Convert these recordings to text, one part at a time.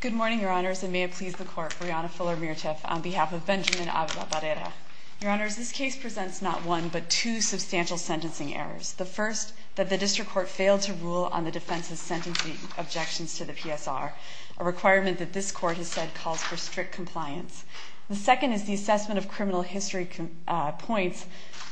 Good morning, Your Honors, and may it please the Court, Brianna Fuller-Meerthoef on behalf of Benjamin Ava Barrera. Your Honors, this case presents not one but two substantial sentencing errors. The first, that the District Court failed to rule on the defense's sentencing objections to the PSR, a requirement that this Court has said calls for strict compliance. The second is the assessment of criminal history points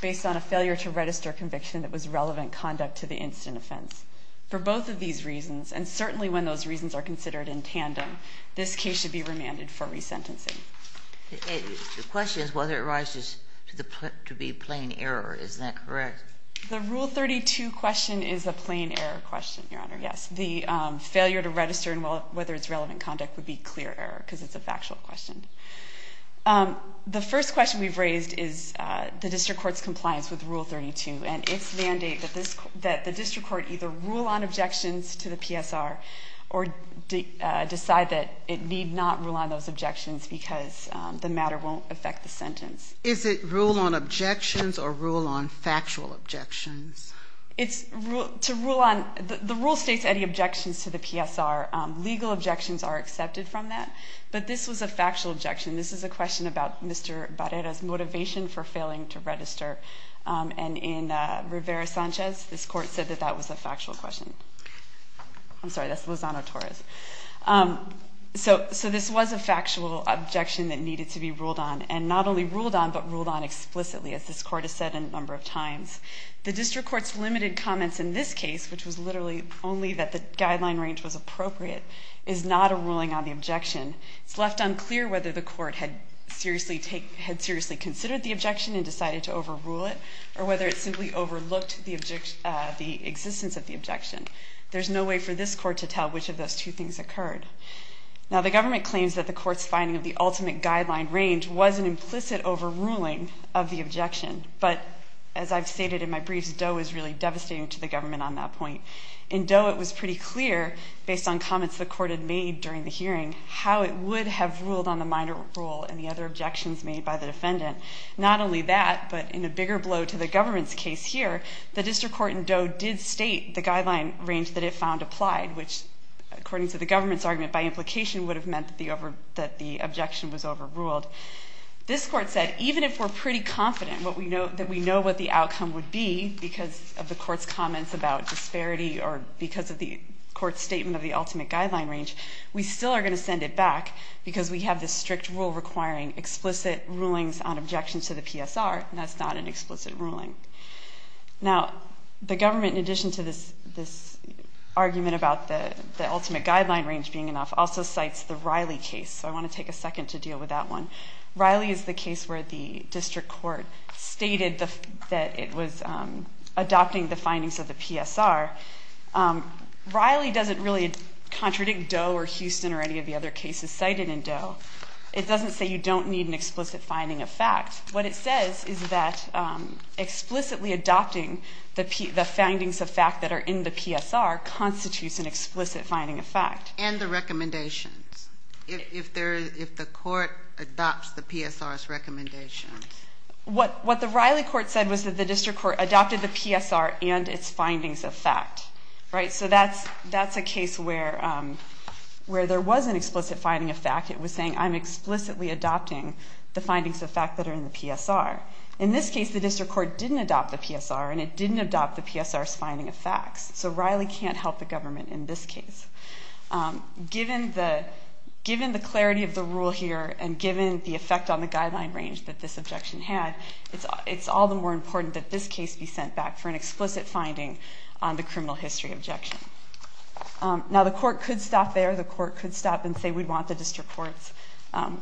based on a failure to register conviction that was relevant conduct to the incident offense. For both of these reasons, and certainly when those reasons are considered in tandem, this case should be remanded for resentencing. The question is whether it arises to be plain error. Is that correct? The Rule 32 question is a plain error question, Your Honor, yes. The failure to register and whether it's relevant conduct would be clear error because it's a factual question. The first question we've raised is the District Court's compliance with Rule 32 and its mandate that the District Court either rule on objections to the PSR or decide that it need not rule on those objections because the matter won't affect the sentence. Is it rule on objections or rule on factual objections? The Rule states any objections to the PSR. Legal objections are accepted from that, but this was a factual objection. This is a question about Mr. Barrera's motivation for failing to register. And in Rivera-Sanchez, this Court said that that was a factual question. I'm sorry, that's Lozano-Torres. So this was a factual objection that needed to be ruled on, and not only ruled on, but ruled on explicitly, as this Court has said a number of times. The District Court's limited comments in this case, which was literally only that the guideline range was appropriate, is not a ruling on the objection. It's left unclear whether the Court had seriously considered the objection and decided to overrule it or whether it simply overlooked the existence of the objection. There's no way for this Court to tell which of those two things occurred. Now, the government claims that the Court's finding of the ultimate guideline range was an implicit overruling of the objection, but as I've stated in my briefs, Doe is really devastating to the government on that point. In Doe, it was pretty clear, based on comments the Court had made during the hearing, how it would have ruled on the minor rule and the other objections made by the defendant. Not only that, but in a bigger blow to the government's case here, the District Court in Doe did state the guideline range that it found applied, which, according to the government's argument, by implication would have meant that the objection was overruled. This Court said even if we're pretty confident that we know what the outcome would be because of the Court's comments about disparity or because of the Court's statement of the ultimate guideline range, we still are going to send it back because we have this strict rule requiring explicit rulings on objections to the PSR, and that's not an explicit ruling. Now, the government, in addition to this argument about the ultimate guideline range being enough, also cites the Riley case, so I want to take a second to deal with that one. Riley is the case where the District Court stated that it was adopting the findings of the PSR. Riley doesn't really contradict Doe or Houston or any of the other cases cited in Doe. It doesn't say you don't need an explicit finding of fact. What it says is that explicitly adopting the findings of fact that are in the PSR constitutes an explicit finding of fact. And the recommendations, if the Court adopts the PSR's recommendations. What the Riley Court said was that the District Court adopted the PSR and its findings of fact, right? So that's a case where there was an explicit finding of fact. It was saying I'm explicitly adopting the findings of fact that are in the PSR. In this case, the District Court didn't adopt the PSR, and it didn't adopt the PSR's finding of facts, so Riley can't help the government in this case. Given the clarity of the rule here and given the effect on the guideline range that this objection had, it's all the more important that this case be sent back for an explicit finding on the criminal history objection. Now, the Court could stop there. The Court could stop and say we want the District Court's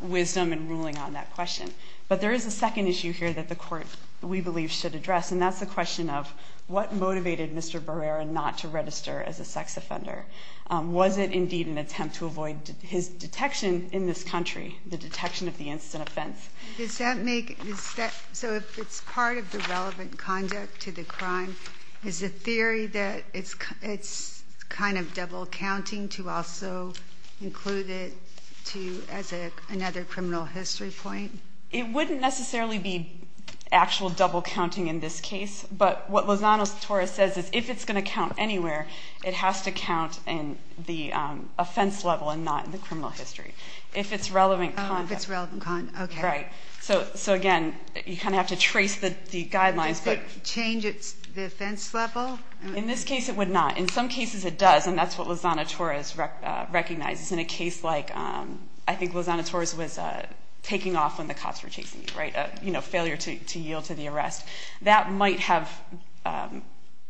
wisdom and ruling on that question. But there is a second issue here that the Court, we believe, should address, and that's the question of what motivated Mr. Barrera not to register as a sex offender. Was it indeed an attempt to avoid his detection in this country, the detection of the incident offense? So if it's part of the relevant conduct to the crime, is the theory that it's kind of double counting to also include it as another criminal history point? It wouldn't necessarily be actual double counting in this case, but what Lozano-Torres says is if it's going to count anywhere, it has to count in the offense level and not in the criminal history. If it's relevant conduct. If it's relevant conduct, okay. Right. So again, you kind of have to trace the guidelines. Does it change the offense level? In this case, it would not. In some cases, it does, and that's what Lozano-Torres recognizes. In a case like I think Lozano-Torres was taking off when the cops were chasing him, right, a failure to yield to the arrest, that might have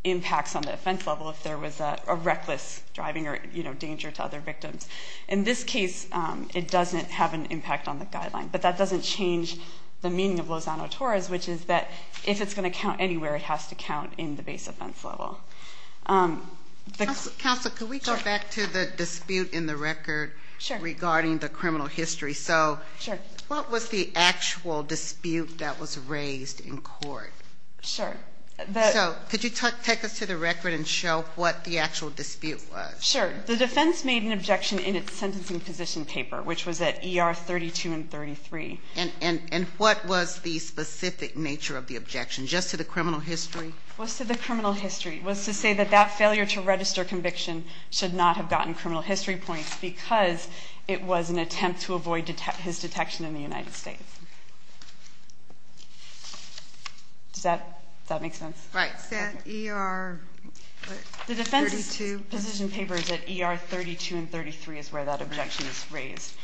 impacts on the offense level if there was a reckless driving or danger to other victims. In this case, it doesn't have an impact on the guideline, but that doesn't change the meaning of Lozano-Torres, which is that if it's going to count anywhere, it has to count in the base offense level. Counsel, could we go back to the dispute in the record regarding the criminal history? So what was the actual dispute that was raised in court? Sure. So could you take us to the record and show what the actual dispute was? Sure. The defense made an objection in its sentencing position paper, which was at ER 32 and 33. And what was the specific nature of the objection just to the criminal history? It was to the criminal history. It was to say that that failure to register conviction should not have gotten criminal history points because it was an attempt to avoid his detection in the United States. Does that make sense? Right. Is that ER 32? The defense's position paper is at ER 32 and 33 is where that objection is raised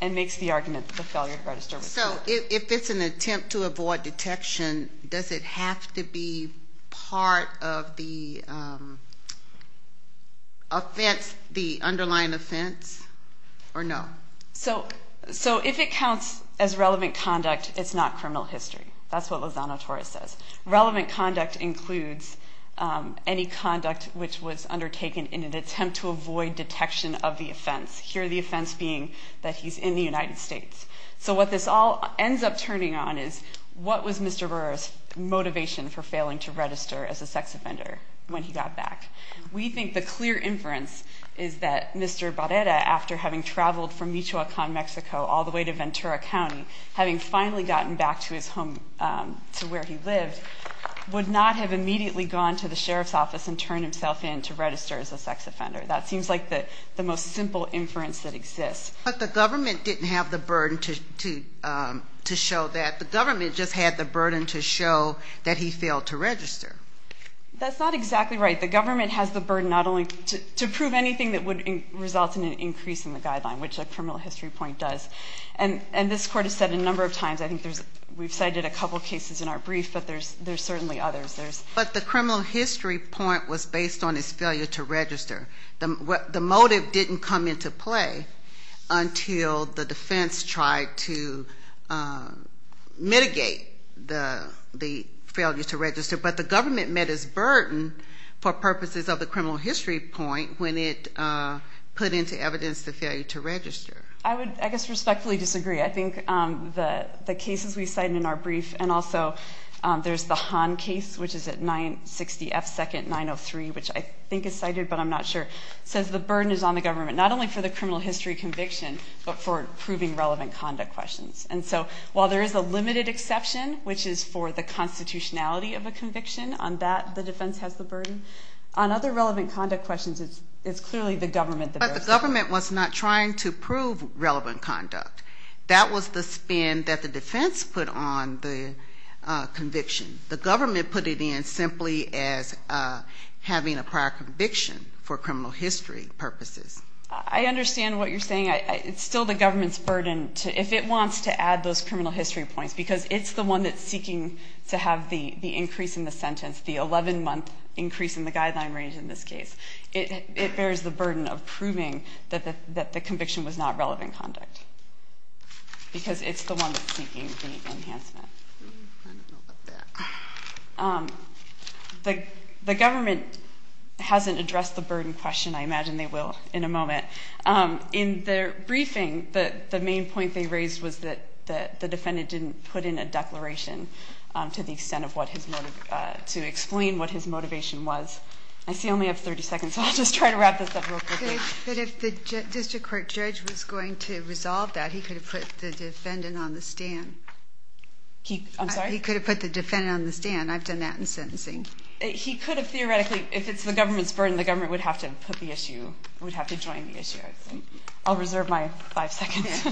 and makes the argument that the failure to register was not. So if it's an attempt to avoid detection, does it have to be part of the underlying offense or no? So if it counts as relevant conduct, it's not criminal history. That's what Lozano-Torres says. Relevant conduct includes any conduct which was undertaken in an attempt to avoid detection of the offense, here the offense being that he's in the United States. So what this all ends up turning on is what was Mr. Barrera's motivation for failing to register as a sex offender when he got back? We think the clear inference is that Mr. Barrera, after having traveled from Michoacan, Mexico, all the way to Ventura County, having finally gotten back to his home, to where he lived, would not have immediately gone to the sheriff's office and turned himself in to register as a sex offender. But the government didn't have the burden to show that. The government just had the burden to show that he failed to register. That's not exactly right. The government has the burden not only to prove anything that would result in an increase in the guideline, which a criminal history point does, and this Court has said a number of times. I think we've cited a couple cases in our brief, but there's certainly others. But the criminal history point was based on his failure to register. The motive didn't come into play until the defense tried to mitigate the failure to register. But the government met its burden for purposes of the criminal history point when it put into evidence the failure to register. I would, I guess, respectfully disagree. I think the cases we cited in our brief, and also there's the Hahn case, which is at 960 F. 2nd, 903, which I think is cited, but I'm not sure, says the burden is on the government, not only for the criminal history conviction, but for proving relevant conduct questions. And so while there is a limited exception, which is for the constitutionality of a conviction, on that the defense has the burden, on other relevant conduct questions, it's clearly the government. But the government was not trying to prove relevant conduct. That was the spin that the defense put on the conviction. The government put it in simply as having a prior conviction for criminal history purposes. I understand what you're saying. It's still the government's burden to, if it wants to add those criminal history points, because it's the one that's seeking to have the increase in the sentence, the 11-month increase in the guideline range in this case. It bears the burden of proving that the conviction was not relevant conduct, because it's the one that's seeking the enhancement. The government hasn't addressed the burden question. I imagine they will in a moment. In their briefing, the main point they raised was that the defendant didn't put in a declaration to the extent of what his motive, to explain what his motivation was. I see I only have 30 seconds, so I'll just try to wrap this up real quickly. But if the district court judge was going to resolve that, he could have put the defendant on the stand. I'm sorry? He could have put the defendant on the stand. I've done that in sentencing. He could have theoretically, if it's the government's burden, the government would have to put the issue, would have to join the issue. I'll reserve my five seconds.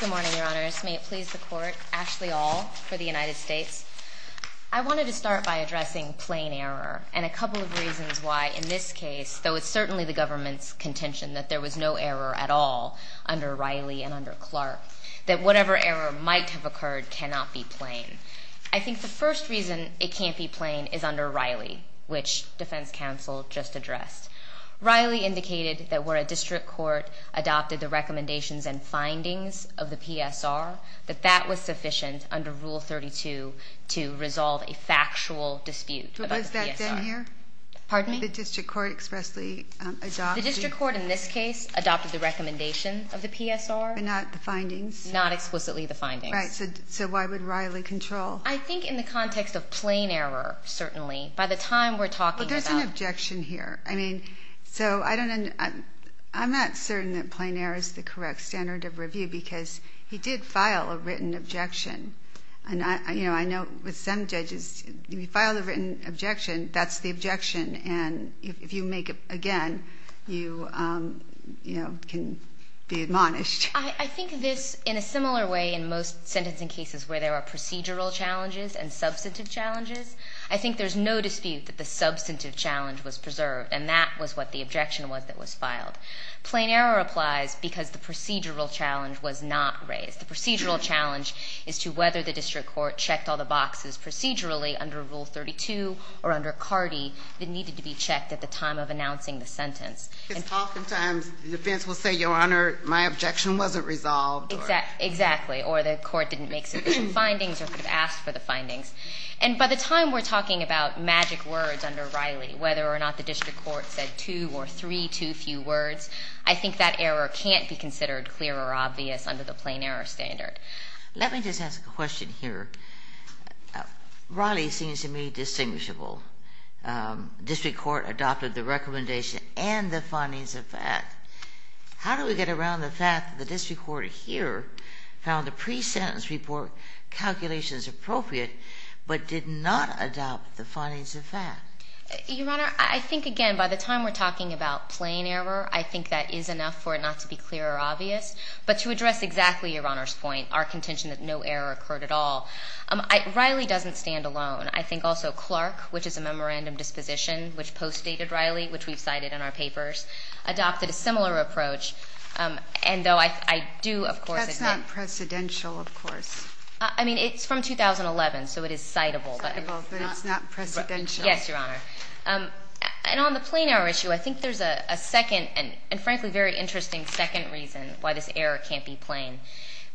Good morning, Your Honors. May it please the Court. Ashley Aul for the United States. I wanted to start by addressing plain error and a couple of reasons why in this case, though it's certainly the government's contention that there was no error at all under Riley and under Clark, that whatever error might have occurred cannot be plain. I think the first reason it can't be plain is under Riley, which defense counsel just addressed. Riley indicated that where a district court adopted the recommendations and findings of the PSR, that that was sufficient under Rule 32 to resolve a factual dispute about the PSR. Was that then here? Pardon me? The district court expressly adopted? The district court in this case adopted the recommendation of the PSR. But not the findings? Not explicitly the findings. Right. So why would Riley control? I think in the context of plain error, certainly. By the time we're talking about. There's one objection here. I mean, so I don't know. I'm not certain that plain error is the correct standard of review because he did file a written objection. And, you know, I know with some judges, you file a written objection, that's the objection. And if you make it again, you, you know, can be admonished. I think this, in a similar way in most sentencing cases where there are procedural challenges and substantive challenges, I think there's no dispute that the substantive challenge was preserved. And that was what the objection was that was filed. Plain error applies because the procedural challenge was not raised. The procedural challenge is to whether the district court checked all the boxes procedurally under Rule 32 or under CARDI that needed to be checked at the time of announcing the sentence. Because oftentimes the defense will say, Your Honor, my objection wasn't resolved. Exactly. Or the court didn't make sufficient findings or could have asked for the findings. And by the time we're talking about magic words under Riley, whether or not the district court said two or three too few words, I think that error can't be considered clear or obvious under the plain error standard. Let me just ask a question here. Riley seems to me distinguishable. District court adopted the recommendation and the findings of that. How do we get around the fact that the district court here found the pre-sentence report calculations appropriate but did not adopt the findings of that? Your Honor, I think, again, by the time we're talking about plain error, I think that is enough for it not to be clear or obvious. But to address exactly Your Honor's point, our contention that no error occurred at all, Riley doesn't stand alone. I think also Clark, which is a memorandum disposition, which postdated Riley, which we've cited in our papers, adopted a similar approach. And though I do, of course, accept. That's not precedential, of course. I mean, it's from 2011, so it is citable. Citable, but it's not precedential. Yes, Your Honor. And on the plain error issue, I think there's a second and, frankly, very interesting second reason why this error can't be plain.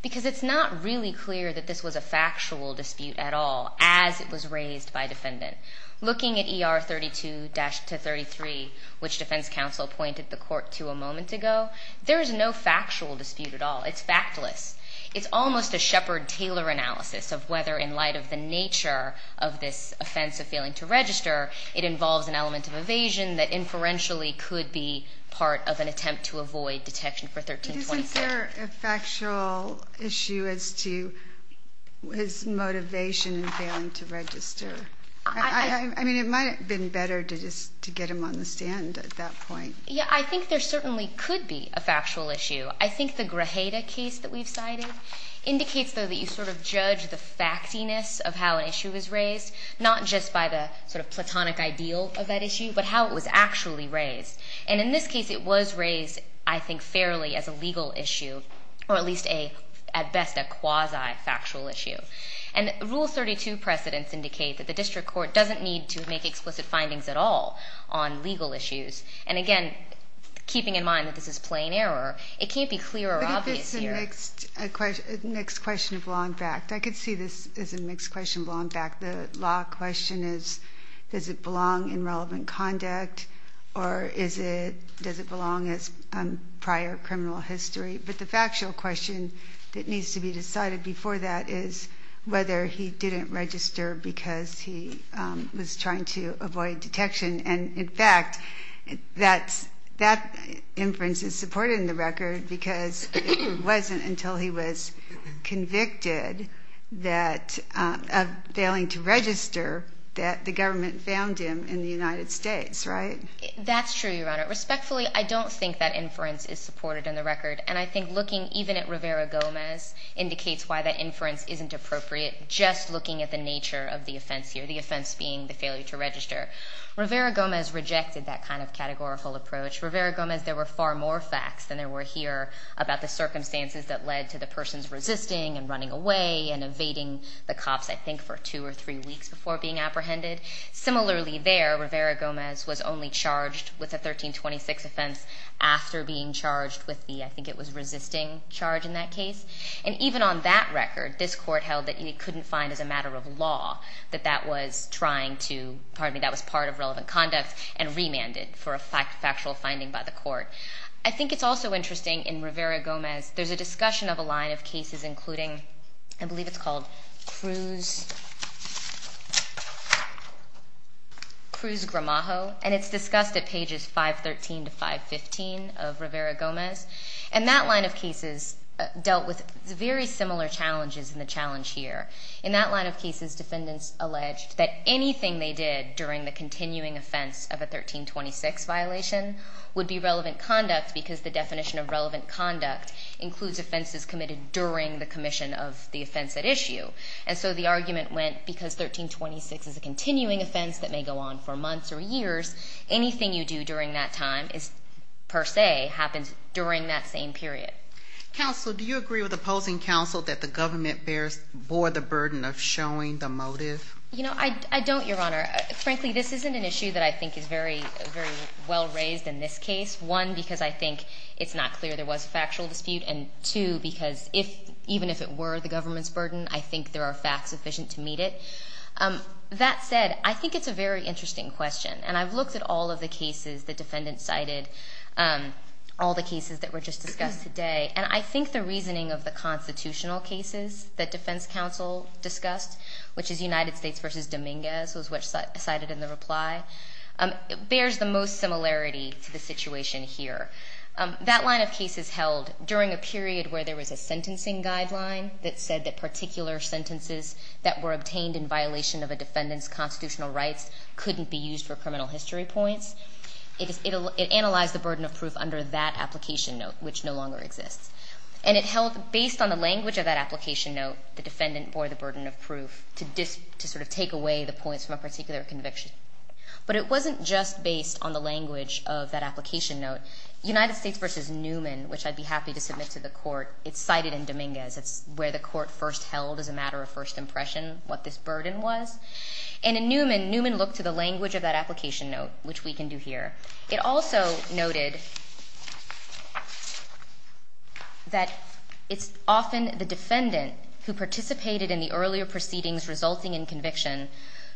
Because it's not really clear that this was a factual dispute at all as it was raised by defendant. Looking at ER 32-33, which defense counsel pointed the court to a moment ago, there is no factual dispute at all. It's factless. It's almost a Shepard-Taylor analysis of whether in light of the nature of this offense of failing to register, it involves an element of evasion that inferentially could be part of an attempt to avoid detection for 1324. Isn't there a factual issue as to his motivation in failing to register? I mean, it might have been better to just get him on the stand at that point. Yeah, I think there certainly could be a factual issue. I think the Grajeda case that we've cited indicates, though, that you sort of judge the factiness of how an issue was raised, not just by the sort of platonic ideal of that issue, but how it was actually raised. And in this case, it was raised, I think, fairly as a legal issue, or at least, at best, a quasi-factual issue. And Rule 32 precedents indicate that the district court doesn't need to make explicit findings at all on legal issues. And again, keeping in mind that this is plain error, it can't be clear or obvious here. I think this is a mixed question of law and fact. I could see this as a mixed question of law and fact. The law question is, does it belong in relevant conduct, or does it belong as prior criminal history? But the factual question that needs to be decided before that is whether he didn't register because he was trying to avoid detection. And, in fact, that inference is supported in the record because it wasn't until he was convicted of failing to register that the government found him in the United States, right? That's true, Your Honor. Respectfully, I don't think that inference is supported in the record. And I think looking even at Rivera-Gomez indicates why that inference isn't appropriate, just looking at the nature of the offense here, the offense being the failure to register. Rivera-Gomez rejected that kind of categorical approach. Rivera-Gomez, there were far more facts than there were here about the circumstances that led to the person's resisting and running away and evading the cops, I think, for two or three weeks before being apprehended. Similarly there, Rivera-Gomez was only charged with a 1326 offense after being charged with the, I think it was resisting charge in that case. And even on that record, this court held that he couldn't find as a matter of law that that was trying to, pardon me, that was part of relevant conduct and remanded for a factual finding by the court. I think it's also interesting in Rivera-Gomez, there's a discussion of a line of cases including, I believe it's called Cruz-Gramajo, and it's discussed at pages 513 to 515 of Rivera-Gomez. And that line of cases dealt with very similar challenges in the challenge here. In that line of cases, defendants alleged that anything they did during the continuing offense of a 1326 violation would be relevant conduct because the definition of relevant conduct includes offenses committed during the commission of the offense at issue. And so the argument went, because 1326 is a continuing offense that may go on for months or years, anything you do during that time per se happens during that same period. Counsel, do you agree with opposing counsel that the government bore the burden of showing the motive? You know, I don't, Your Honor. Frankly, this isn't an issue that I think is very well raised in this case. One, because I think it's not clear there was a factual dispute. And two, because even if it were the government's burden, I think there are facts sufficient to meet it. That said, I think it's a very interesting question. And I've looked at all of the cases the defendant cited, all the cases that were just discussed today. And I think the reasoning of the constitutional cases that defense counsel discussed, which is United States v. Dominguez was what was cited in the reply, bears the most similarity to the situation here. That line of cases held during a period where there was a sentencing guideline that said that particular sentences that were obtained in violation of a defendant's constitutional rights couldn't be used for criminal history points. It analyzed the burden of proof under that application note, which no longer exists. And it held, based on the language of that application note, the defendant bore the burden of proof to sort of take away the points from a particular conviction. But it wasn't just based on the language of that application note. United States v. Newman, which I'd be happy to submit to the Court, it's cited in Dominguez. It's where the Court first held as a matter of first impression what this burden was. And in Newman, Newman looked to the language of that application note, which we can do here. It also noted that it's often the defendant who participated in the earlier proceedings resulting in conviction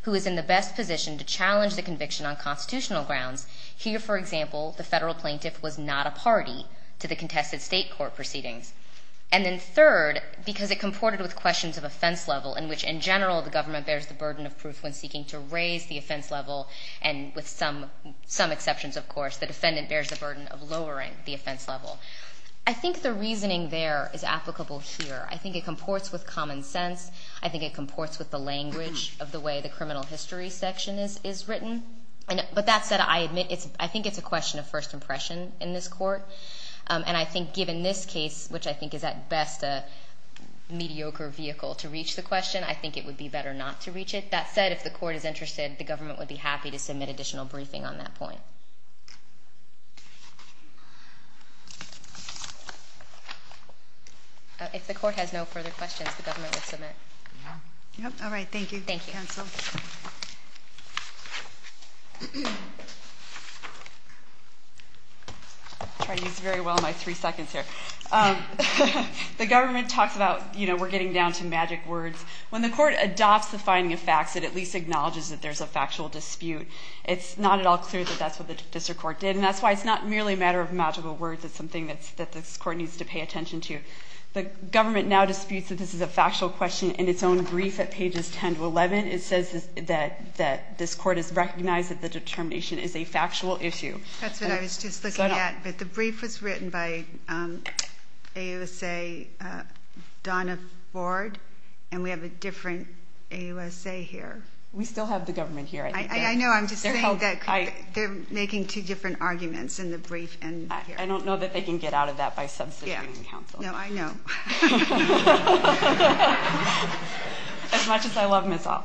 who is in the best position to challenge the conviction on constitutional grounds. Here, for example, the Federal plaintiff was not a party to the contested State court proceedings. And then third, because it comported with questions of offense level, in which, in general, the government bears the burden of proof when seeking to raise the offense level. And with some exceptions, of course, the defendant bears the burden of lowering the offense level. I think the reasoning there is applicable here. I think it comports with common sense. I think it comports with the language of the way the criminal history section is written. But that said, I admit I think it's a question of first impression in this Court. And I think given this case, which I think is at best a mediocre vehicle to reach the question, I think it would be better not to reach it. That said, if the Court is interested, the government would be happy to submit additional briefing on that point. If the Court has no further questions, the government will submit. All right. Thank you. Thank you, counsel. I'll try to use very well my three seconds here. The government talks about, you know, we're getting down to magic words. When the Court adopts the finding of facts, it at least acknowledges that there's a factual dispute. It's not at all clear that that's what the district court did. And that's why it's not merely a matter of magical words. It's something that this Court needs to pay attention to. The government now disputes that this is a factual question in its own brief at pages 10 to 11. It says that this Court has recognized that the determination is a factual issue. That's what I was just looking at. But the brief was written by AUSA Donna Ford. And we have a different AUSA here. We still have the government here. I know. I'm just saying that they're making two different arguments in the brief. I don't know that they can get out of that by substituting counsel. No, I know. As much as I love Ms. Ault.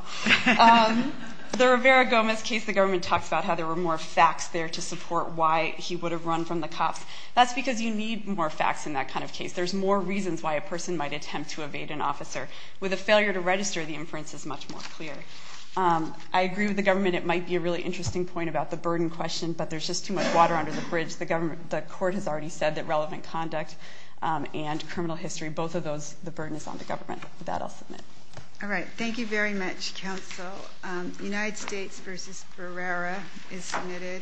The Rivera-Gomez case, the government talks about how there were more facts there to support why he would have run from the cops. That's because you need more facts in that kind of case. There's more reasons why a person might attempt to evade an officer. With a failure to register, the inference is much more clear. I agree with the government it might be a really interesting point about the burden question, but there's just too much water under the bridge. The court has already said that relevant conduct and criminal history, both of those, the burden is on the government. With that, I'll submit. All right. Thank you very much, counsel. United States v. Rivera is submitted.